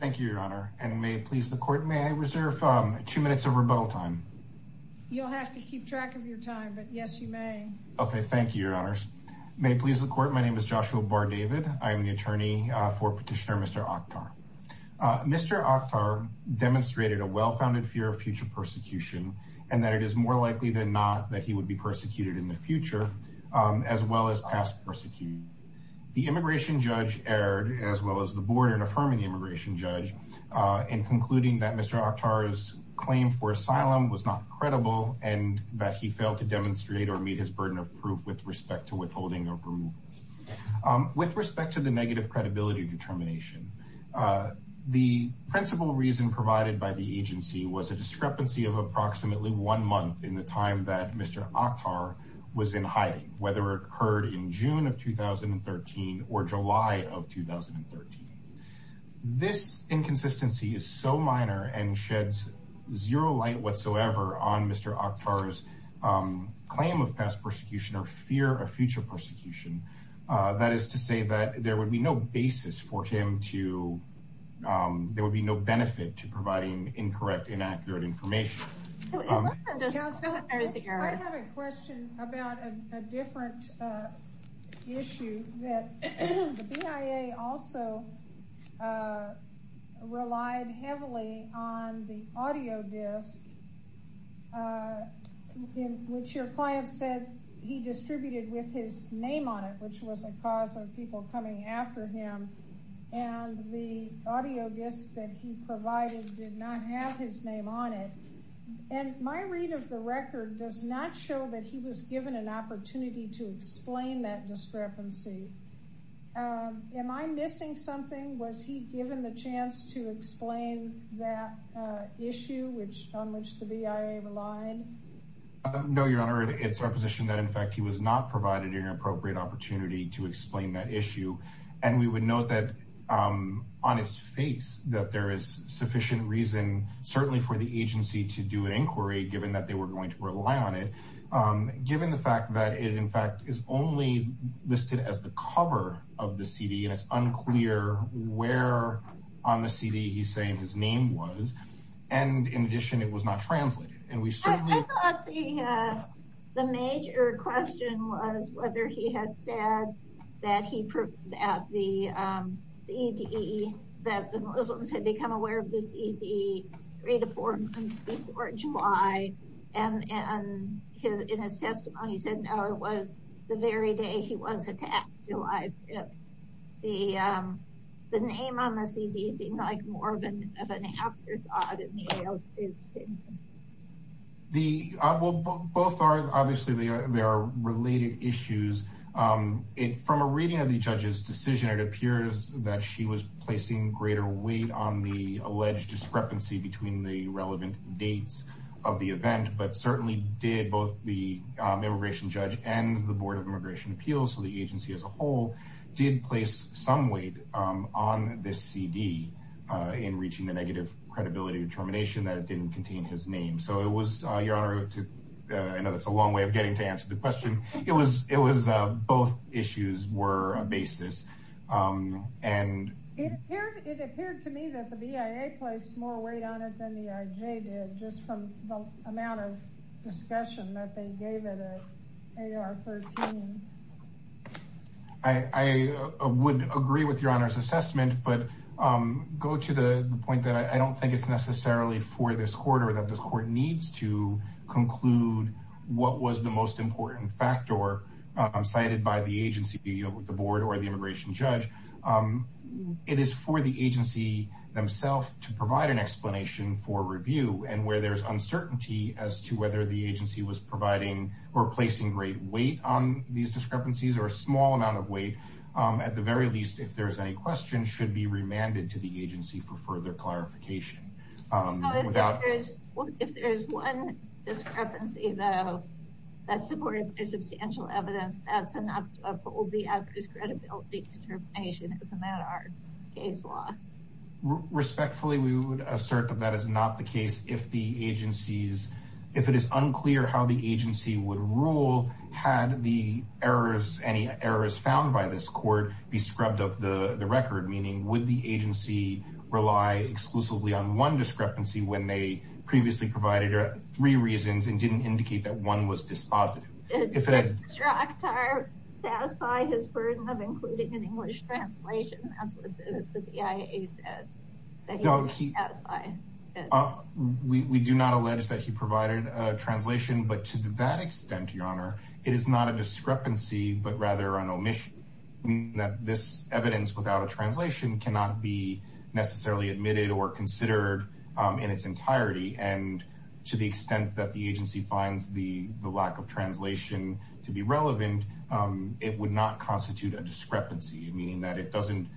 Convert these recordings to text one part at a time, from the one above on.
Thank you, Your Honor. And may it please the court, may I reserve two minutes of rebuttal time? You'll have to keep track of your time, but yes, you may. Okay. Thank you, Your Honors. May it please the court. My name is Joshua Barr David. I am the attorney for petitioner, Mr. Akhtar. Mr. Akhtar demonstrated a well-founded fear of future persecution and that it is more likely than not that he would be persecuted in the future as well as past persecution. The immigration judge erred as well as the board in affirming the immigration judge, uh, in concluding that Mr. Akhtar's claim for asylum was not credible and that he failed to demonstrate or meet his burden of proof with respect to withholding approval. Um, with respect to the negative credibility determination, uh, the principal reason provided by the agency was a discrepancy of approximately one month in the time that Mr. Akhtar was in hiding, whether it occurred in June of 2013 or July of 2013. This inconsistency is so minor and sheds zero light whatsoever on Mr. Akhtar's, um, claim of past persecution or fear of future persecution. Uh, that is to say that there would be no basis for him to, um, there would be no benefit to providing incorrect, inaccurate information. I have a question about a different, uh, issue that the BIA also, uh, relied heavily on the audio disc, uh, in which your client said he distributed with his name on it, which was a cause of people coming after him and the audio disc that he provided did not have his name on it. And my read of the record does not show that he was given an opportunity to explain that discrepancy. Um, am I missing something? Was he given the chance to explain that, uh, issue which, on which the BIA relied? Uh, no, your honor, it's our position that in fact, he was not provided an appropriate opportunity to explain that issue. And we would note that, um, on its face that there is sufficient reason, certainly for the agency to do an inquiry, given that they were going to rely on it, um, given the fact that it in fact is only listed as the cover of the CD and it's unclear where on the CD he's saying his name was. And in addition, it was not translated. And we certainly, I thought the, uh, the major question was whether he had said that he proved that the, um, CD that the Muslims had become aware of the CD three to four months before July and, and his, in his testimony said, no, it was the very day he was attacked July 5th. The, um, the name on the CD seemed like more of an, of an afterthought. The, uh, well, both are, obviously they are, they are related issues. Um, it, from a reading of the judge's decision, it appears that she was placing greater weight on the alleged discrepancy between the relevant dates of the event, but certainly did both the immigration judge and the board of immigration appeals. So the agency as a whole did place some weight, um, on this CD, uh, in determination that it didn't contain his name. So it was, uh, your honor to, uh, I know that's a long way of getting to answer the question. It was, it was, uh, both issues were a basis. Um, and it appeared to me that the BIA placed more weight on it than the IJ did just from the amount of discussion that they gave it at AR 13. I would agree with your honors assessment, but, um, go to the point that I don't think it's necessarily for this quarter that this court needs to conclude what was the most important factor cited by the agency, the board or the immigration judge, um, it is for the agency themselves to provide an explanation for review and where there's uncertainty as to whether the agency was providing or placing great weight on these discrepancies or a small amount of weight, um, at the very least, if there's any questions should be remanded to the agency for further clarification, um, without, if there's one discrepancy though, that's supported by substantial evidence, that's enough of what will be a discredibility determination as a matter of case law. Respectfully, we would assert that that is not the case. If the agencies, if it is unclear how the agency would rule, had the errors, any errors found by this court be scrubbed up the record, meaning would the agency rely exclusively on one discrepancy when they previously provided three reasons and didn't indicate that one was dispositive. If it had satisfied his burden of including an English translation, that's what the CIA said, that he would satisfy. We do not allege that he provided a translation, but to that extent, your honor, it is not a discrepancy, but rather an omission that this evidence without a translation cannot be necessarily admitted or considered, um, in its entirety and to the extent that the agency finds the lack of translation to be relevant, um, it would not constitute a discrepancy, meaning that it doesn't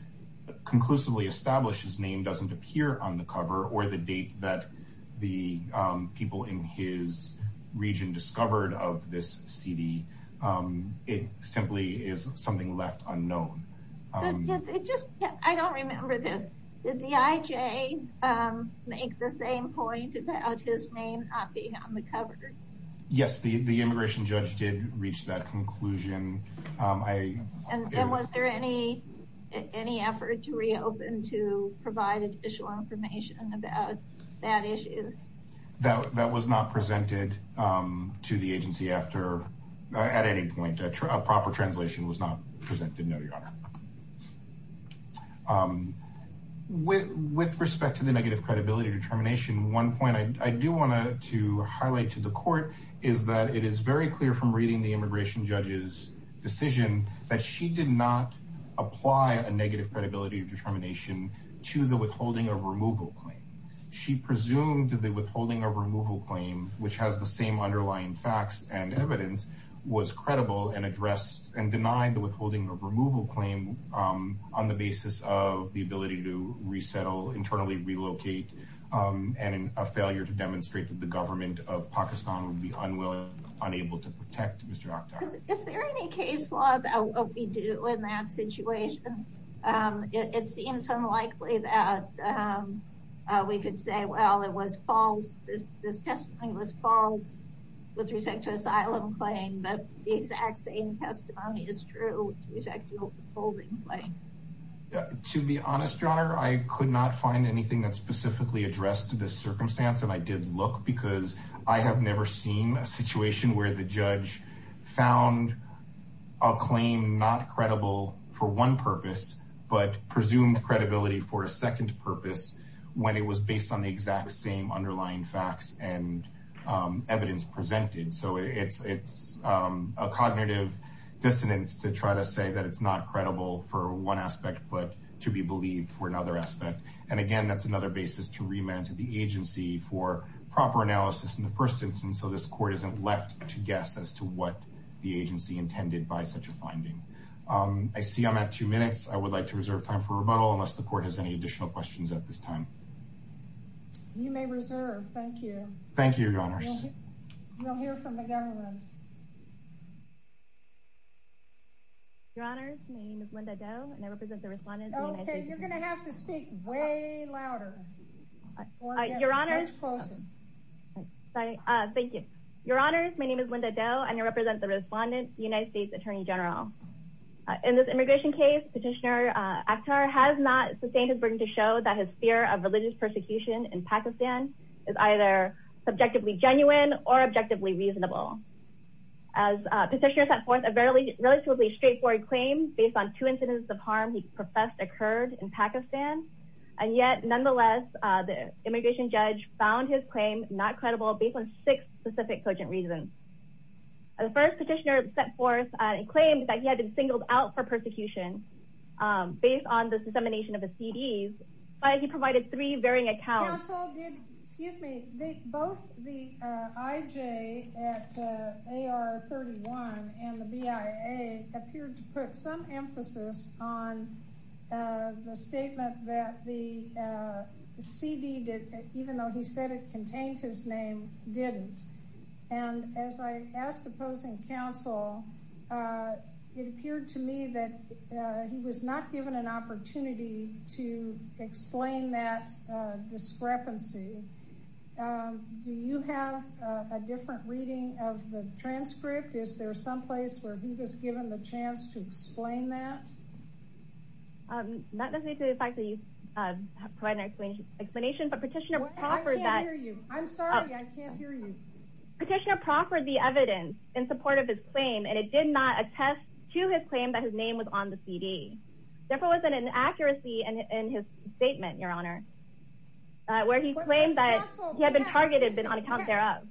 conclusively establish his name doesn't appear on the cover or the date that the, um, people in his region discovered of this CD. Um, it simply is something left unknown. Um, it just, I don't remember this. Did the IJ, um, make the same point about his name not being on the cover? Yes. The, the immigration judge did reach that conclusion. Um, I, and was there any, any effort to reopen, to provide additional information about that issue? That, that was not presented, um, to the agency after, uh, at any point, a proper translation was not presented. No, your honor. Um, with, with respect to the negative credibility determination, one point I do want to highlight to the court is that it is very clear from reading the immigration judge's decision that she did not apply a negative credibility determination to the withholding of removal claim. She presumed that the withholding of removal claim, which has the same underlying facts and evidence was credible and addressed and denied the removal claim, um, on the basis of the ability to resettle, internally relocate, um, and a failure to demonstrate that the government of Pakistan would be unwilling, unable to protect Mr. Akhtar. Is there any case law about what we do in that situation? Um, it, it seems unlikely that, um, uh, we could say, well, it was false. This, this testimony was false with respect to asylum claim, but the exact same testimony is true with respect to withholding claim. To be honest, your honor, I could not find anything that's specifically addressed to this circumstance. And I did look because I have never seen a situation where the judge found a claim not credible for one purpose, but presumed credibility for a second purpose when it was based on the exact same underlying facts and, um, evidence presented. So it's, it's, um, a cognitive dissonance to try to say that it's not credible for one aspect, but to be believed for another aspect. And again, that's another basis to remand to the agency for proper analysis in the first instance. So this court isn't left to guess as to what the agency intended by such a finding. Um, I see I'm at two minutes. I would like to reserve time for rebuttal unless the court has any additional questions at this time. You may reserve. Thank you. Thank you, your honors. We'll hear from the government. Your honors. My name is Linda Doe and I represent the respondents. Okay. You're going to have to speak way louder. Your honors. Sorry. Uh, thank you, your honors. My name is Linda Doe and I represent the respondents, the United States attorney general. Uh, in this immigration case, petitioner, uh, actor has not sustained his burden to show that his fear of religious persecution in Pakistan is either subjectively genuine or objectively reasonable as a petitioner sent forth a fairly relatively straightforward claims based on two incidents of harm he professed occurred in Pakistan and yet nonetheless, uh, the immigration judge found his claim not credible based on six specific cogent reasons. The first petitioner set forth a claim that he had been singled out for persecution, um, based on the dissemination of a CDs, but he excuse me, they, both the, uh, IJ at, uh, AR 31 and the BIA appeared to put some emphasis on, uh, the statement that the, uh, CD did, even though he said it contained his name, didn't. And as I asked opposing counsel, uh, it appeared to me that, uh, he was not given an opportunity to explain that, uh, discrepancy. Um, do you have a different reading of the transcript? Is there someplace where he was given the chance to explain that? Um, not necessarily the fact that you, uh, provide an explanation, explanation, but petitioner. I'm sorry. I can't hear you. Petitioner proffered the evidence in support of his claim. And it did not attest to his claim that his name was on the CD. Therefore, it wasn't an accuracy in his statement, your honor, uh, where he claimed that he had been targeted on account thereof,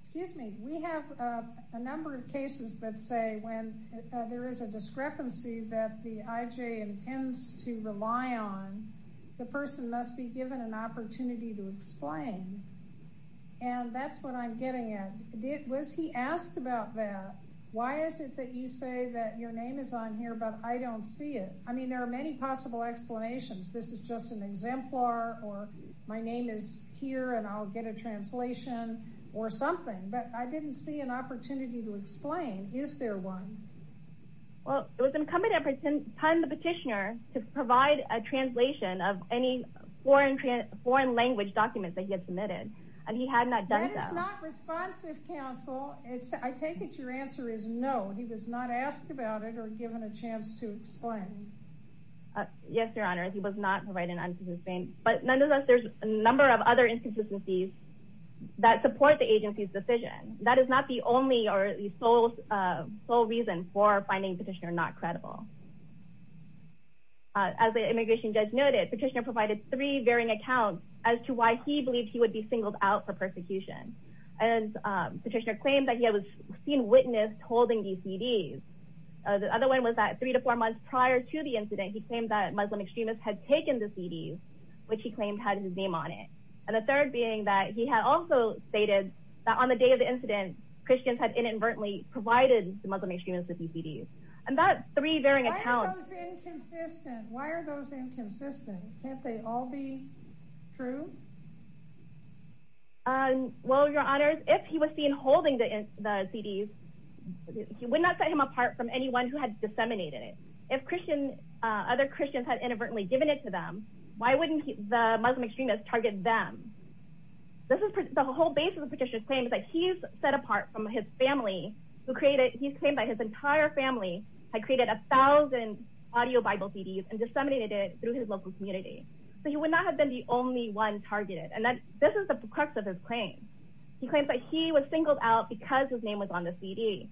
excuse me. We have, uh, a number of cases that say when, uh, there is a discrepancy that the IJ intends to rely on, the person must be given an opportunity to explain, and that's what I'm getting at it. Was he asked about that? Why is it that you say that your name is on here, but I don't see it. I mean, there are many possible explanations. This is just an exemplar, or my name is here and I'll get a translation or something, but I didn't see an opportunity to explain. Is there one? Well, it was incumbent upon the petitioner to provide a translation of any foreign, foreign language documents that he had submitted. And he had not done that. It's not responsive counsel. It's I take it. Your answer is no. He was not asked about it or given a chance to explain. Uh, yes, your honor. He was not providing an answer to his name, but nonetheless, there's a number of other inconsistencies that support the agency's decision. That is not the only, or the sole, uh, sole reason for finding petitioner not credible. Uh, as the immigration judge noted, petitioner provided three varying accounts as to why he believed he would be singled out for persecution. And, um, petitioner claimed that he had seen witnesses holding these CDs. Uh, the other one was that three to four months prior to the incident, he claimed that Muslim extremists had taken the CDs, which he claimed had his name on it, and the third being that he had also stated that on the day of the incident, Christians had inadvertently provided the Muslim extremists with these CDs and that's three varying accounts. Why are those inconsistent? Can't they all be true? Um, well, your honors, if he was seen holding the, the CDs, he would not set him apart from anyone who had disseminated it. If Christian, uh, other Christians had inadvertently given it to them, why wouldn't he, the Muslim extremists target them? This is the whole basis of petitioner's claim is that he's set apart from his family who created, he's claimed that his entire family had created a thousand audio Bible CDs and disseminated it through his local community. So he would not have been the only one targeted. And that this is the crux of his claim. He claims that he was singled out because his name was on the CD.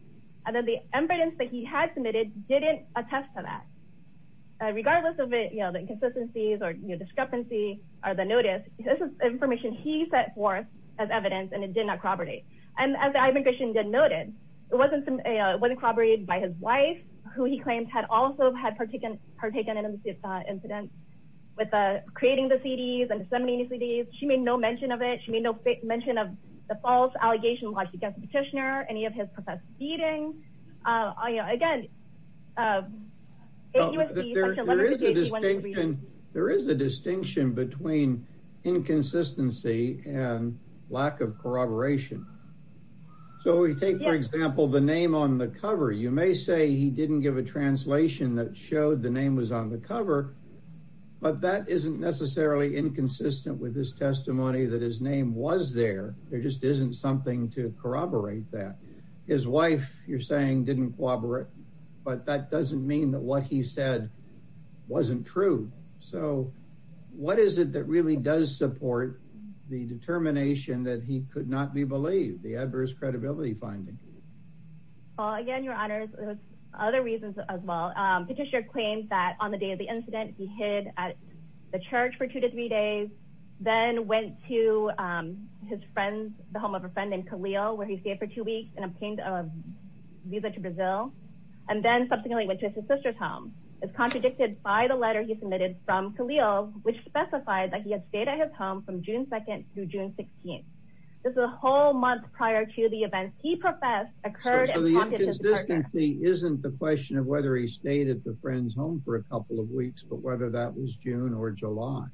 And then the evidence that he had submitted didn't attest to that. Uh, regardless of it, you know, the inconsistencies or discrepancy or the notice, this is information he set forth as evidence and it did not corroborate. And as I think I shouldn't get noted, it wasn't some, uh, it wasn't corroborated by his wife who he claims had also had partaken, partaken in incidents with, uh, creating the CDs and disseminating CDs. She made no mention of it. She made no mention of the false allegation while she gets a petitioner, any of his professed beating, uh, you know, again, uh, there is a distinction. There is a distinction between inconsistency and lack of corroboration. So we take, for example, the name on the cover, you may say he didn't give a cover, but that isn't necessarily inconsistent with his testimony that his name was there. There just isn't something to corroborate that. His wife you're saying didn't corroborate, but that doesn't mean that what he said wasn't true. So what is it that really does support the determination that he could not be believed, the adverse credibility finding? Well, again, your honors, other reasons as well. Petitioner claims that on the day of the incident, he hid at the church for two to three days, then went to, um, his friends, the home of a friend named Khalil, where he stayed for two weeks and obtained a visa to Brazil. And then subsequently went to his sister's home. It's contradicted by the letter he submitted from Khalil, which specified that he had stayed at his home from June 2nd through June 16th. This is a whole month prior to the events he professed occurred. So the inconsistency isn't the question of whether he stayed at the friend's home for a couple of weeks, but whether that was June or July.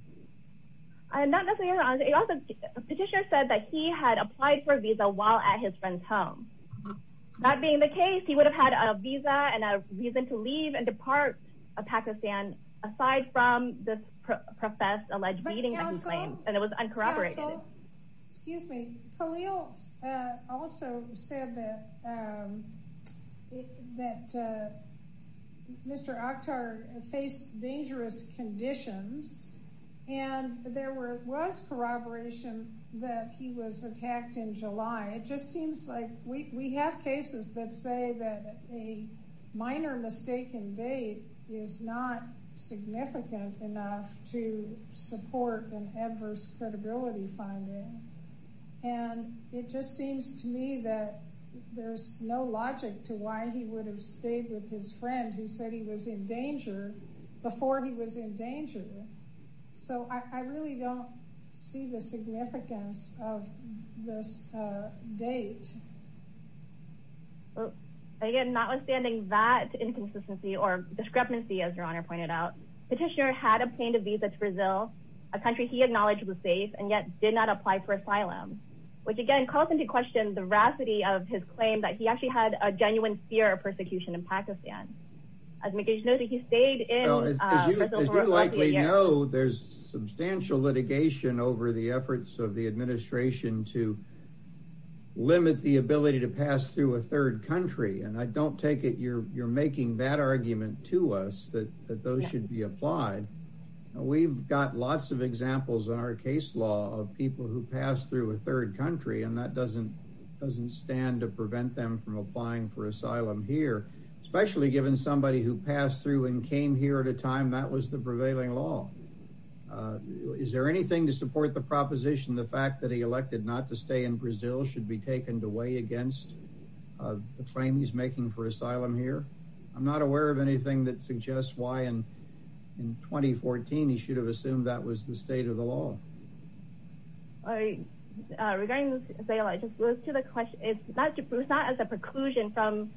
I am not necessarily, your honor, a petitioner said that he had applied for a visa while at his friend's home. That being the case, he would have had a visa and a reason to leave and depart Pakistan aside from the professed alleged beating that he claimed and it was uncorroborated. Excuse me, Khalil also said that, um, that, uh, Mr. Akhtar faced dangerous conditions and there were, was corroboration that he was attacked in July. It just seems like we, we have cases that say that a minor mistaken date is not significant enough to support an adverse credibility finding. And it just seems to me that there's no logic to why he would have stayed with his friend who said he was in danger before he was in danger. So I really don't see the significance of this, uh, date. Well, again, notwithstanding that inconsistency or discrepancy, as your honor pointed out, petitioner had obtained a visa to Brazil, a country he acknowledged was safe and yet did not apply for asylum, which again, calls into question the veracity of his claim that he actually had a genuine fear of persecution in Pakistan. As he knows that he stayed in, uh, as you likely know, there's substantial litigation over the efforts of the administration to limit the ability to pass through a third country. And I don't take it you're, you're making that argument to us that, that those should be applied. We've got lots of examples in our case law of people who pass through a third country and that doesn't, doesn't stand to prevent them from applying for asylum here, especially given somebody who passed through and came here at a time that was the prevailing law. Uh, is there anything to support the proposition, the fact that he elected not to stay in Brazil should be taken away against, uh, the claim he's making for asylum here? I'm not aware of anything that suggests why in, in 2014, he should have assumed that was the state of the law. I, uh, regarding this sale, I just look to the question. It's not, it's not as a preclusion from,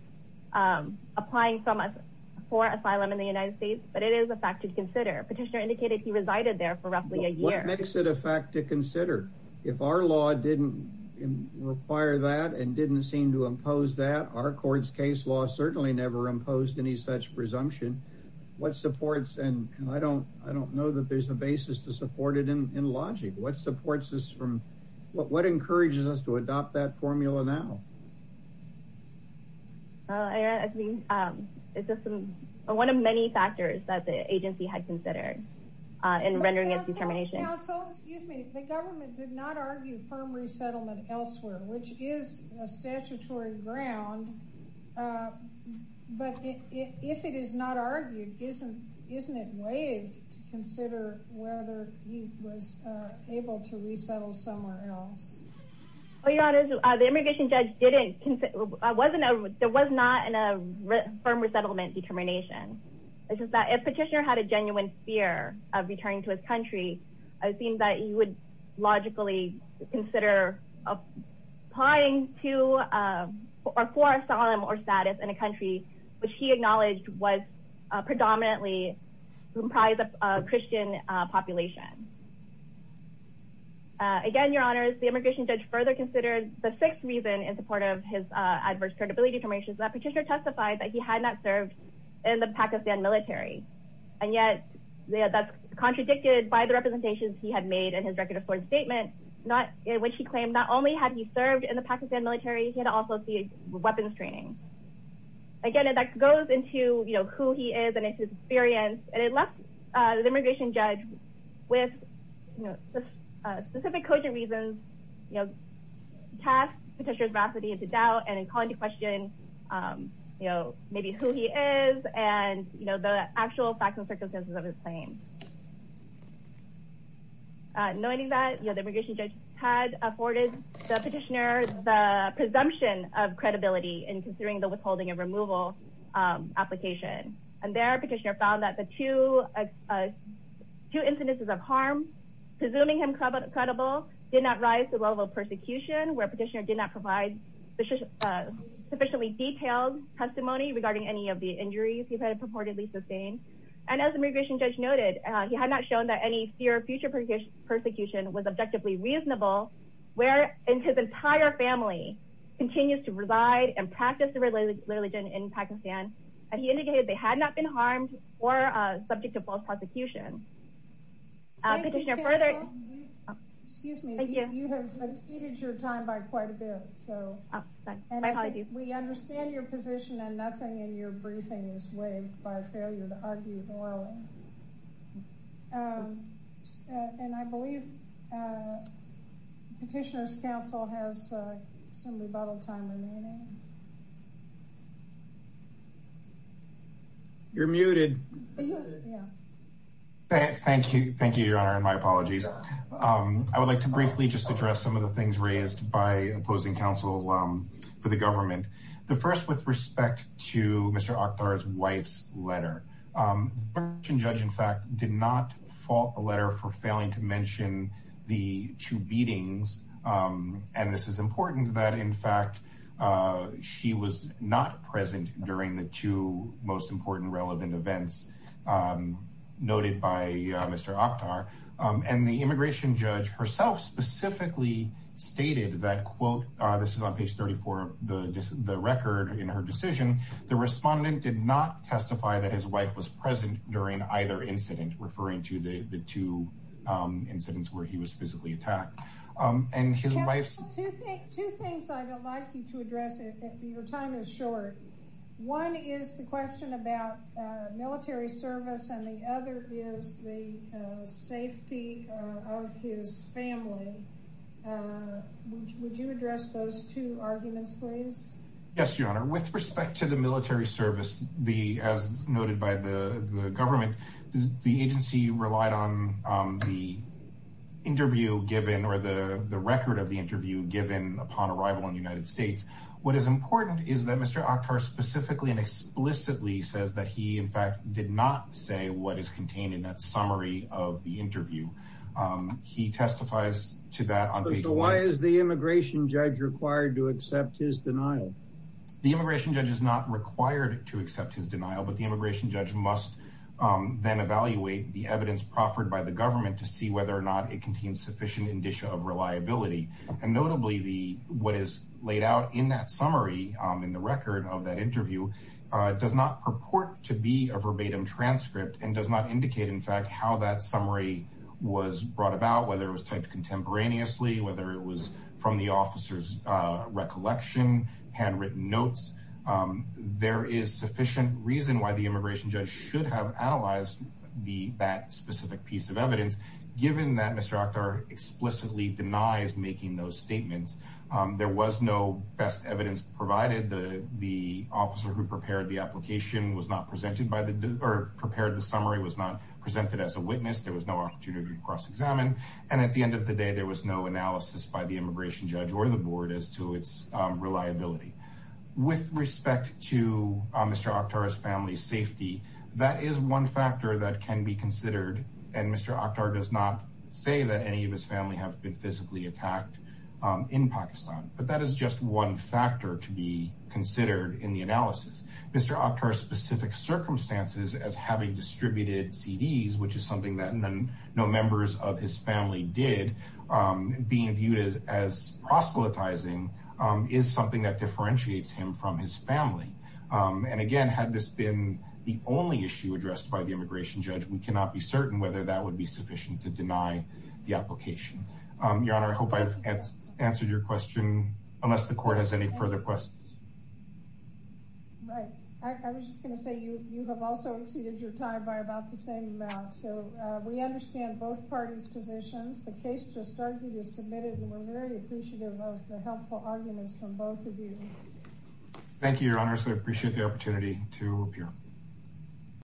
um, applying for asylum in the United States, but it is a fact to consider. Petitioner indicated he resided there for roughly a year. What makes it a fact to consider if our law didn't require that and didn't seem to impose that? Our court's case law certainly never imposed any such presumption. What supports, and I don't, I don't know that there's a basis to support it in, in logic, what supports us from what, what encourages us to adopt that formula now? Uh, I mean, um, it's just some, one of many factors that the agency had considered, uh, in rendering its determination, excuse me, the government did not argue firm resettlement elsewhere, which is a statutory ground. Uh, but if it is not argued, isn't, isn't it waived to consider whether he was able to resettle somewhere else? Well, Your Honor, the immigration judge didn't, I wasn't, there was not in a firm resettlement determination. It's just that if Petitioner had a genuine fear of returning to his country, I think that he would logically consider applying to, uh, or for asylum or status in a country, which he acknowledged was, uh, predominantly comprised of a Christian, uh, population. Uh, again, Your Honors, the immigration judge further considered the sixth reason in support of his, uh, adverse credibility formations that Petitioner testified that he had not served in the Pakistan military, and yet that's contradicted by the representations he had made in his record of foreign statement, not in which he claimed not only had he served in the Pakistan military, he had also seen weapons training. Again, and that goes into, you know, who he is and his experience, and it is, you know, uh, specific cogent reasons, you know, cast Petitioner's veracity into doubt and in calling to question, um, you know, maybe who he is and, you know, the actual facts and circumstances of his claim. Uh, knowing that, you know, the immigration judge had afforded the Petitioner the presumption of credibility in considering the withholding and removal, um, application. And there Petitioner found that the two, uh, two instances of harm presuming him credible did not rise to the level of persecution where Petitioner did not provide the sufficiently detailed testimony regarding any of the injuries he had purportedly sustained. And as the immigration judge noted, he had not shown that any fear of future persecution was objectively reasonable where in his entire family continues to reside and practice the religion in Pakistan, and he indicated they had not been harmed or, uh, subject to false prosecution. Uh, Petitioner further... Excuse me, you have exceeded your time by quite a bit, so we understand your position and nothing in your briefing is waived by failure to argue morally, um, and I believe, uh, Petitioner's counsel has some rebuttal time remaining. You're muted. Thank you. Thank you, Your Honor. And my apologies. Um, I would like to briefly just address some of the things raised by opposing counsel, um, for the government. The first with respect to Mr. Akhtar's wife's letter, um, the immigration judge, in fact, did not fault the letter for failing to mention the two beatings, um, and this is important that in fact, uh, she was not present during the two most important relevant events, um, noted by, uh, Mr. Akhtar, um, and the immigration judge herself specifically stated that, quote, uh, this is on page 34 of the record in her decision, the respondent did not testify that his wife was present during either incident, referring to the, the two, um, incidents where he was physically attacked, um, and his wife's two things, two things I don't like you to address it. Your time is short. One is the question about, uh, military service. And the other is the, uh, safety, uh, of his family. Uh, would you address those two arguments, please? Yes, Your Honor. With respect to the military service, the, as noted by the government, the interview given, or the record of the interview given upon arrival in the United States, what is important is that Mr. Akhtar specifically and explicitly says that he in fact did not say what is contained in that summary of the interview. Um, he testifies to that on page one. Why is the immigration judge required to accept his denial? The immigration judge is not required to accept his denial, but the immigration judge must, um, then evaluate the evidence proffered by the government to see whether or not it contains sufficient indicia of reliability. And notably the, what is laid out in that summary, um, in the record of that interview, uh, does not purport to be a verbatim transcript and does not indicate in fact, how that summary was brought about, whether it was typed contemporaneously, whether it was from the officer's, uh, recollection, handwritten notes. Um, there is sufficient reason why the immigration judge should have analyzed the, that specific piece of evidence, given that Mr. Akhtar explicitly denies making those statements. Um, there was no best evidence provided the, the officer who prepared the application was not presented by the, or prepared the summary was not presented as a witness. There was no opportunity to cross examine. And at the end of the day, there was no analysis by the immigration judge or the board as to its reliability. With respect to Mr. Akhtar's family safety, that is one factor that can be considered. And Mr. Akhtar does not say that any of his family have been physically attacked, um, in Pakistan, but that is just one factor to be considered in the analysis. Mr. Akhtar's specific circumstances as having distributed CDs, which is something that no members of his family did, um, being viewed as, as proselytizing, um, is something that differentiates him from his family. Um, and again, had this been the only issue addressed by the immigration judge, we cannot be certain whether that would be sufficient to deny the application, um, your honor, I hope I've answered your question unless the court has any further questions. Right. I was just going to say, you, you have also exceeded your time by about the same amount. So, uh, we understand both parties' positions. The case just started, you just submitted, and we're very appreciative of the helpful arguments from both of you. Thank you, your honors. I appreciate the opportunity to appear.